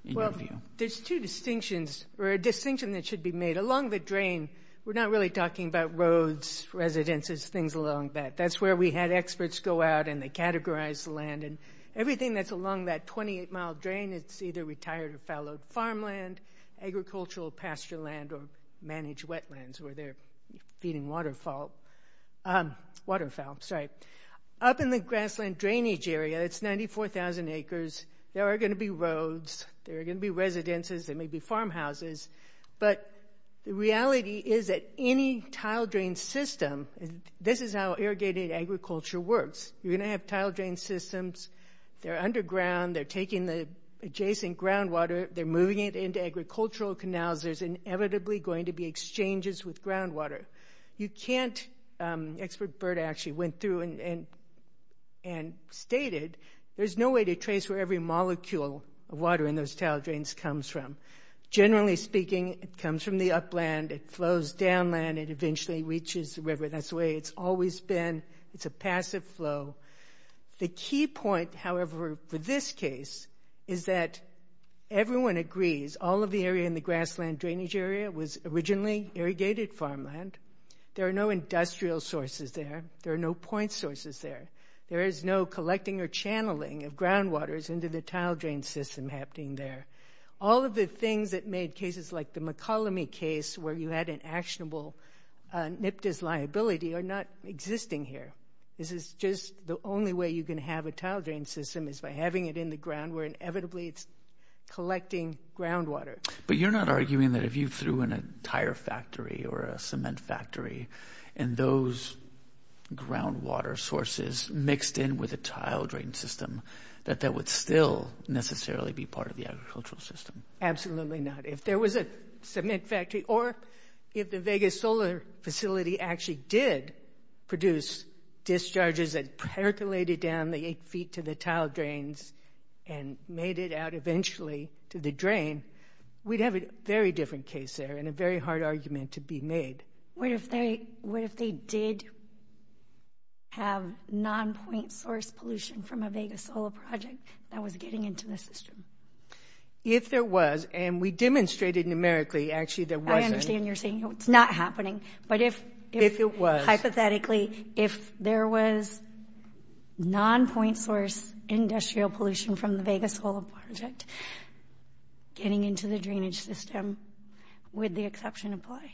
in your view? Well, there's two distinctions, or a distinction that should be made. Along the drain, we're not really talking about roads, residences, things along that. That's where we had experts go out, and they categorized the land. And everything that's along that 28-mile drain, it's either retired or fallowed farmland, agricultural pasture land, or managed wetlands where they're feeding waterfowl. Up in the grassland drainage area, it's 94,000 acres. There are going to be roads. There are going to be residences. There may be farmhouses. But the reality is that any tile drain system, this is how irrigated agriculture works. You're going to have tile drain systems. They're underground. They're taking the adjacent groundwater. They're moving it into agricultural canals. There's inevitably going to be exchanges with groundwater. You can't, expert Berta actually went through and stated, there's no way to trace where every molecule of water in those tile drains comes from. Generally speaking, it comes from the upland. It flows downland. It eventually reaches the river. That's the way it's always been. It's a passive flow. The key point, however, for this case is that everyone agrees all of the area in the grassland drainage area was originally irrigated farmland. There are no industrial sources there. There are no point sources there. There is no collecting or channeling of groundwaters into the tile drain system happening there. All of the things that made cases like the McColumney case where you had an actionable NPDES liability are not existing here. This is just the only way you can have a tile drain system is by having it in the ground where inevitably it's collecting groundwater. But you're not arguing that if you threw in a tire factory or a cement factory and those groundwater sources mixed in with a tile drain system, that that would still necessarily be part of the agricultural system. Absolutely not. If there was a cement factory or if the Vegas Solar Facility actually did produce discharges that percolated down the 8 feet to the tile drains and made it out eventually to the drain, we'd have a very different case there and a very hard argument to be made. What if they did have non-point source pollution from a Vegas solar project that was getting into the system? If there was, and we demonstrated numerically, actually, there wasn't. I understand you're saying it's not happening. If it was. Hypothetically, if there was non-point source industrial pollution from the Vegas solar project getting into the drainage system, would the exception apply?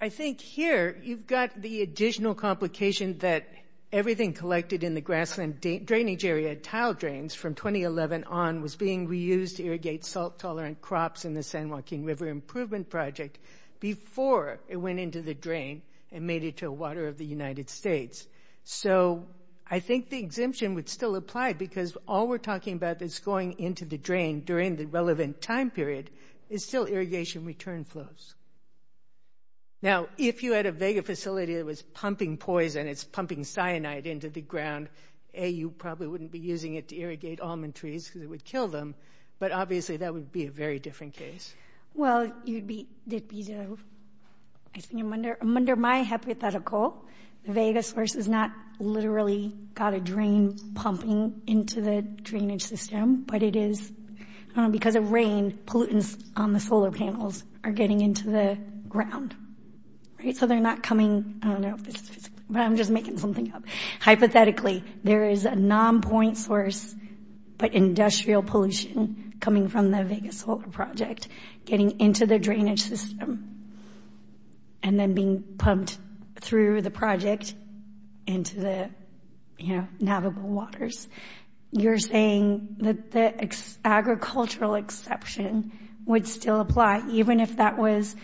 I think here you've got the additional complication that everything collected in the grassland drainage area tile drains from 2011 on was being reused to irrigate salt-tolerant crops in the San Joaquin River Improvement Project before it went into the drain and made it to the water of the United States. So I think the exemption would still apply because all we're talking about that's going into the drain during the relevant time period is still irrigation return flows. Now, if you had a Vega facility that was pumping poison, it's pumping cyanide into the ground, A, you probably wouldn't be using it to irrigate almond trees because it would kill them, but obviously that would be a very different case. Well, I think under my hypothetical, the Vega source has not literally got a drain pumping into the drainage system, but it is – because of rain, pollutants on the solar panels are getting into the ground, right? So they're not coming – I don't know if this is – but I'm just making something up. Hypothetically, there is a non-point source, but industrial pollution coming from the Vega solar project getting into the drainage system and then being pumped through the project into the, you know, navigable waters. You're saying that the agricultural exception would still apply even if that was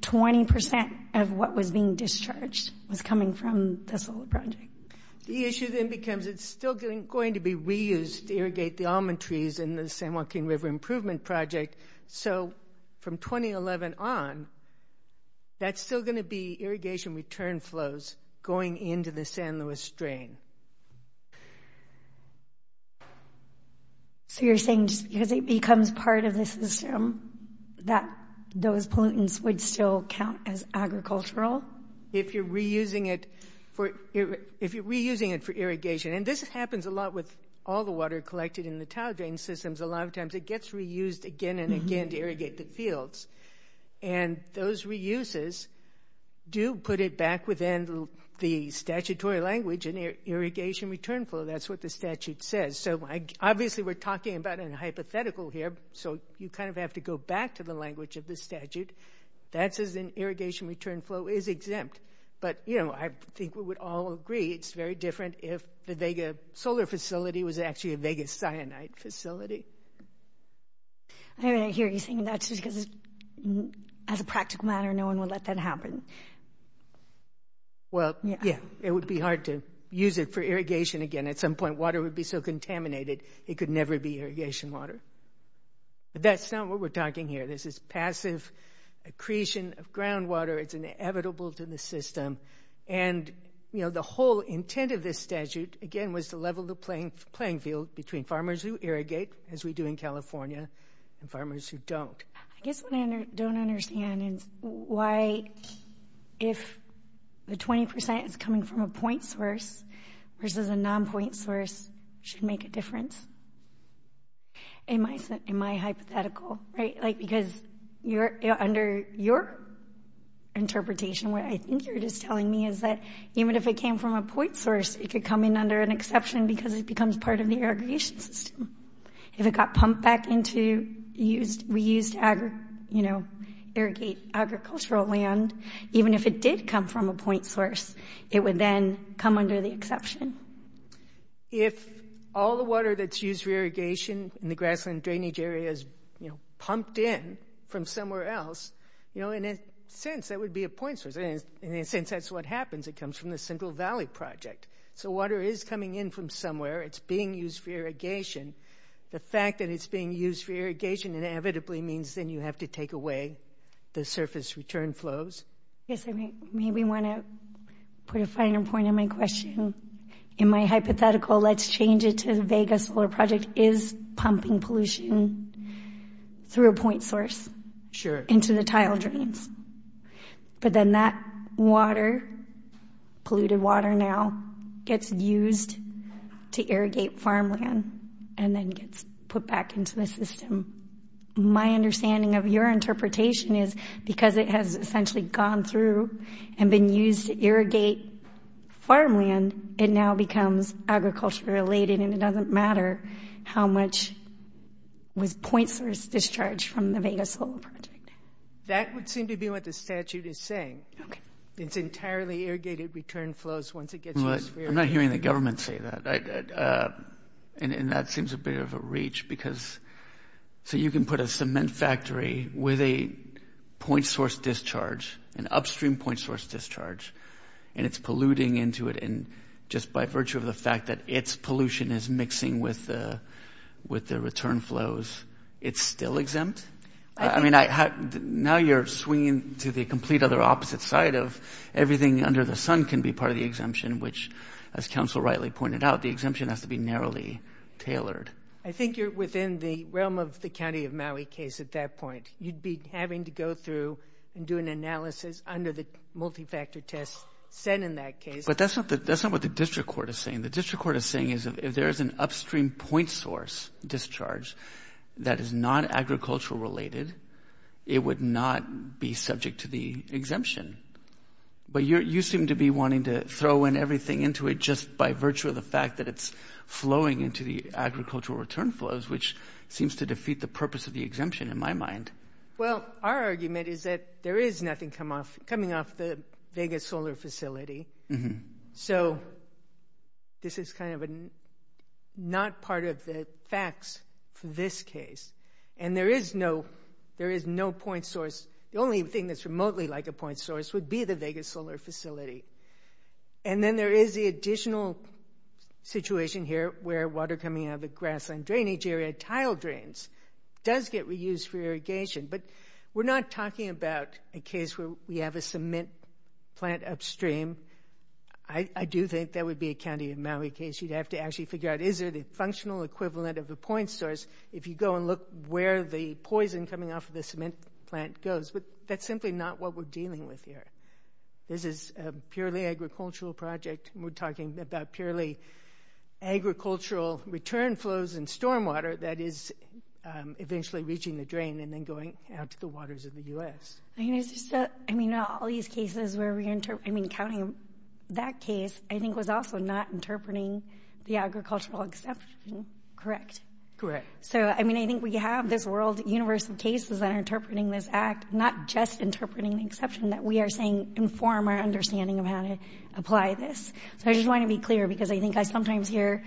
20% of what was being discharged was coming from the solar project. The issue then becomes it's still going to be reused to irrigate the almond trees in the San Joaquin River Improvement Project. So from 2011 on, that's still going to be irrigation return flows going into the San Luis drain. So you're saying just because it becomes part of the system that those pollutants would still count as agricultural? If you're reusing it for irrigation. And this happens a lot with all the water collected in the tile drain systems. A lot of times it gets reused again and again to irrigate the fields. And those reuses do put it back within the statutory language in irrigation return flow. That's what the statute says. So obviously we're talking about a hypothetical here, so you kind of have to go back to the language of the statute. That says an irrigation return flow is exempt. But, you know, I think we would all agree it's very different if the Vega solar facility was actually a Vega cyanide facility. I hear you saying that just because as a practical matter no one would let that happen. Well, yeah, it would be hard to use it for irrigation again. At some point water would be so contaminated it could never be irrigation water. But that's not what we're talking here. This is passive accretion of groundwater. It's inevitable to the system. And, you know, the whole intent of this statute, again, was to level the playing field between farmers who irrigate, as we do in California, and farmers who don't. I guess what I don't understand is why if the 20% is coming from a point source versus a non-point source should make a difference in my hypothetical, right? Because under your interpretation, what I think you're just telling me is that even if it came from a point source it could come in under an exception because it becomes part of the irrigation system. If it got pumped back into reused agricultural land, even if it did come from a point source, it would then come under the exception. If all the water that's used for irrigation in the grassland drainage area is pumped in from somewhere else, you know, in a sense that would be a point source. In a sense that's what happens. It comes from the Central Valley Project. So water is coming in from somewhere. It's being used for irrigation. The fact that it's being used for irrigation inevitably means then you have to take away the surface return flows. I guess I maybe want to put a finer point on my question. In my hypothetical, let's change it to the Vegas Solar Project is pumping pollution through a point source into the tile drains. But then that water, polluted water now, gets used to irrigate farmland and then gets put back into the system. My understanding of your interpretation is because it has essentially gone through and been used to irrigate farmland, it now becomes agriculture related and it doesn't matter how much was point source discharged from the Vegas Solar Project. That would seem to be what the statute is saying. Okay. It's entirely irrigated return flows once it gets used for irrigation. I'm not hearing the government say that. And that seems a bit of a reach. So you can put a cement factory with a point source discharge, an upstream point source discharge, and it's polluting into it just by virtue of the fact that its pollution is mixing with the return flows. It's still exempt? I mean, now you're swinging to the complete other opposite side of everything under the sun can be part of the exemption, which, as counsel rightly pointed out, the exemption has to be narrowly tailored. I think you're within the realm of the County of Maui case at that point. You'd be having to go through and do an analysis under the multifactor test set in that case. But that's not what the district court is saying. The district court is saying is if there is an upstream point source discharge that is not agricultural related, it would not be subject to the exemption. But you seem to be wanting to throw in everything into it just by virtue of the fact that it's flowing into the agricultural return flows, which seems to defeat the purpose of the exemption in my mind. Well, our argument is that there is nothing coming off the Vegas solar facility. So this is kind of not part of the facts for this case. And there is no point source. The only thing that's remotely like a point source would be the Vegas solar facility. And then there is the additional situation here where water coming out of the grassland drainage area, tile drains, does get reused for irrigation. But we're not talking about a case where we have a cement plant upstream. I do think that would be a County of Maui case. You'd have to actually figure out is there the functional equivalent of a point source if you go and look where the poison coming off of the cement plant goes. But that's simply not what we're dealing with here. This is a purely agricultural project, and we're talking about purely agricultural return flows in stormwater that is eventually reaching the drain and then going out to the waters of the U.S. I mean, all these cases where we're counting that case, I think was also not interpreting the agricultural exception, correct? Correct. So, I mean, I think we have this world universe of cases that are interpreting this act, not just interpreting the exception that we are saying inform our understanding of how to apply this. So I just want to be clear because I think I sometimes hear,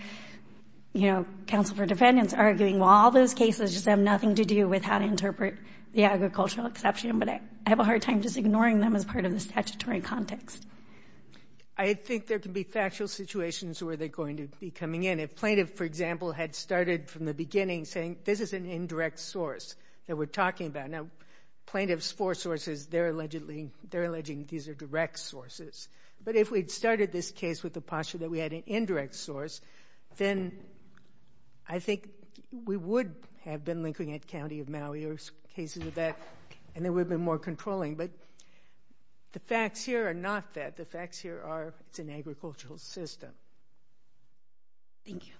you know, counsel for defendants arguing, well, all those cases just have nothing to do with how to interpret the agricultural exception. But I have a hard time just ignoring them as part of the statutory context. I think there can be factual situations where they're going to be coming in. I mean, if plaintiff, for example, had started from the beginning saying this is an indirect source that we're talking about. Now, plaintiff's four sources, they're alleging these are direct sources. But if we'd started this case with the posture that we had an indirect source, then I think we would have been looking at County of Maui or cases of that, and it would have been more controlling. But the facts here are not that. The facts here are it's an agricultural system. Thank you.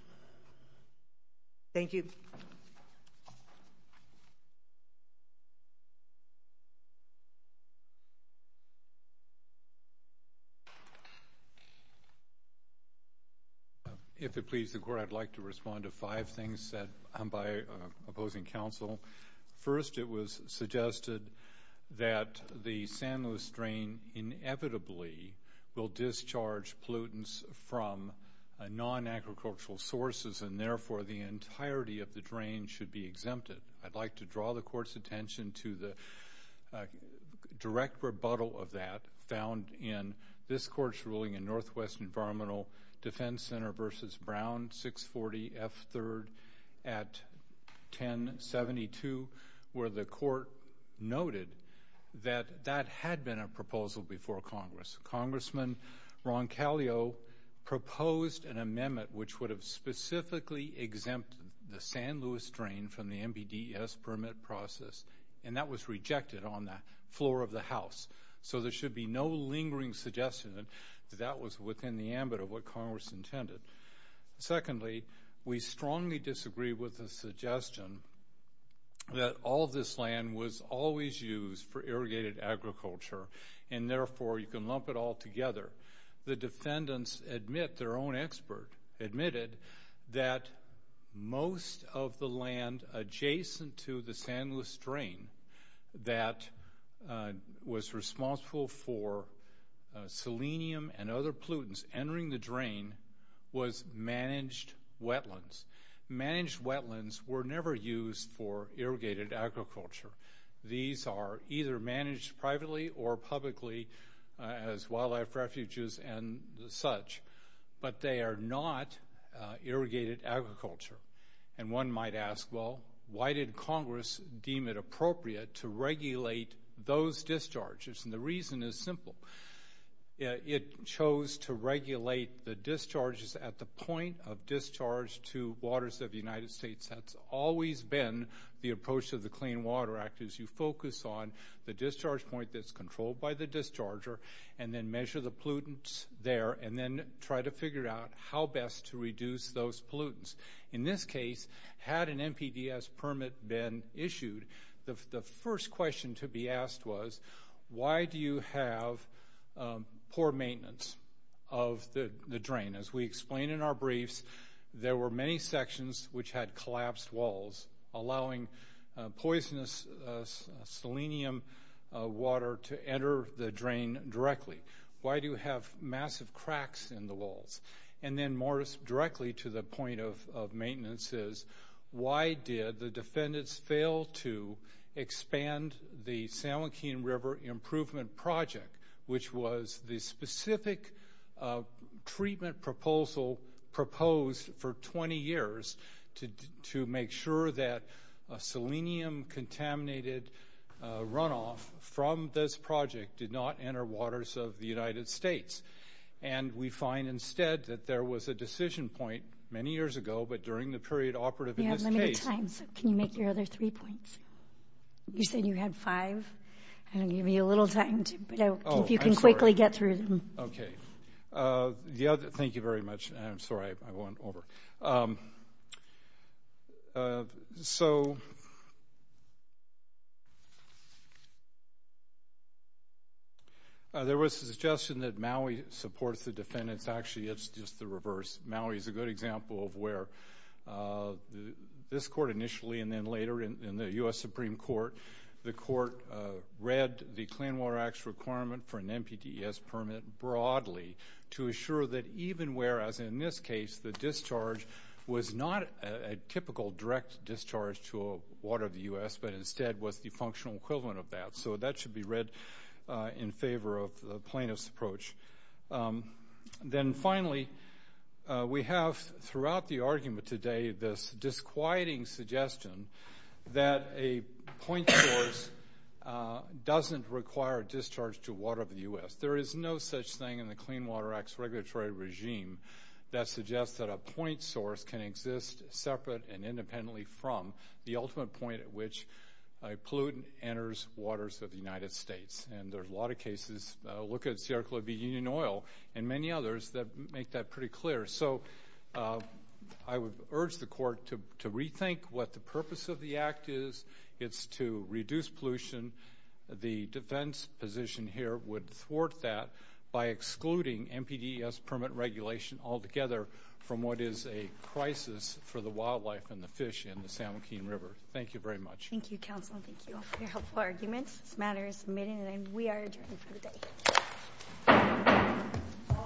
Thank you. If it pleases the court, I'd like to respond to five things by opposing counsel. First, it was suggested that the San Luis drain inevitably will discharge pollutants from non-agricultural sources, and therefore the entirety of the drain should be exempted. I'd like to draw the court's attention to the direct rebuttal of that found in this court's ruling in Northwest Environmental Defense Center v. Brown 640 F3rd at 1072, where the court noted that that had been a proposal before Congress. Congressman Roncalio proposed an amendment which would have specifically exempted the San Luis drain from the MBDS permit process, and that was rejected on the floor of the House. So there should be no lingering suggestion that that was within the ambit of what Congress intended. Secondly, we strongly disagree with the suggestion that all of this land was always used for irrigated agriculture, and therefore you can lump it all together. The defendants admit, their own expert admitted, that most of the land adjacent to the San Luis drain that was responsible for selenium and other pollutants entering the drain was managed wetlands. Managed wetlands were never used for irrigated agriculture. These are either managed privately or publicly as wildlife refuges and such, but they are not irrigated agriculture. And one might ask, well, why did Congress deem it appropriate to regulate those discharges? And the reason is simple. It chose to regulate the discharges at the point of discharge to waters of the United States. That's always been the approach to the Clean Water Act, is you focus on the discharge point that's controlled by the discharger and then measure the pollutants there and then try to figure out how best to reduce those pollutants. In this case, had an MBDS permit been issued, the first question to be asked was, why do you have poor maintenance of the drain? As we explained in our briefs, there were many sections which had collapsed walls, allowing poisonous selenium water to enter the drain directly. Why do you have massive cracks in the walls? And then more directly to the point of maintenance is, why did the defendants fail to expand the San Joaquin River Improvement Project, which was the specific treatment proposal proposed for 20 years to make sure that a selenium-contaminated runoff from this project did not enter waters of the United States? And we find instead that there was a decision point many years ago, but during the period operative in this case... You have limited time, so can you make your other three points? You said you had five. I'm going to give you a little time, if you can quickly get through them. Okay. Thank you very much. I'm sorry, I went over. There was a suggestion that Maui supports the defendants. Actually, it's just the reverse. Maui is a good example of where this court initially, and then later in the U.S. Supreme Court, the court read the Clean Water Act's requirement for an NPTES permit broadly to assure that even where, as in this case, the discharge was not a typical direct discharge to a water of the U.S., but instead was the functional equivalent of that. So that should be read in favor of the plaintiff's approach. Then finally, we have throughout the argument today this disquieting suggestion that a point source doesn't require discharge to water of the U.S. There is no such thing in the Clean Water Act's regulatory regime that suggests that a point source can exist separate and independently from the ultimate point at which a pollutant enters waters of the United States. And there's a lot of cases. Look at Sierra Club Union Oil and many others that make that pretty clear. So I would urge the court to rethink what the purpose of the act is. It's to reduce pollution. The defense position here would thwart that by excluding NPTES permit regulation altogether from what is a crisis for the wildlife and the fish in the San Joaquin River. Thank you very much. Thank you, Counsel. Thank you all for your helpful arguments. This matter is submitted and we are adjourned for the day.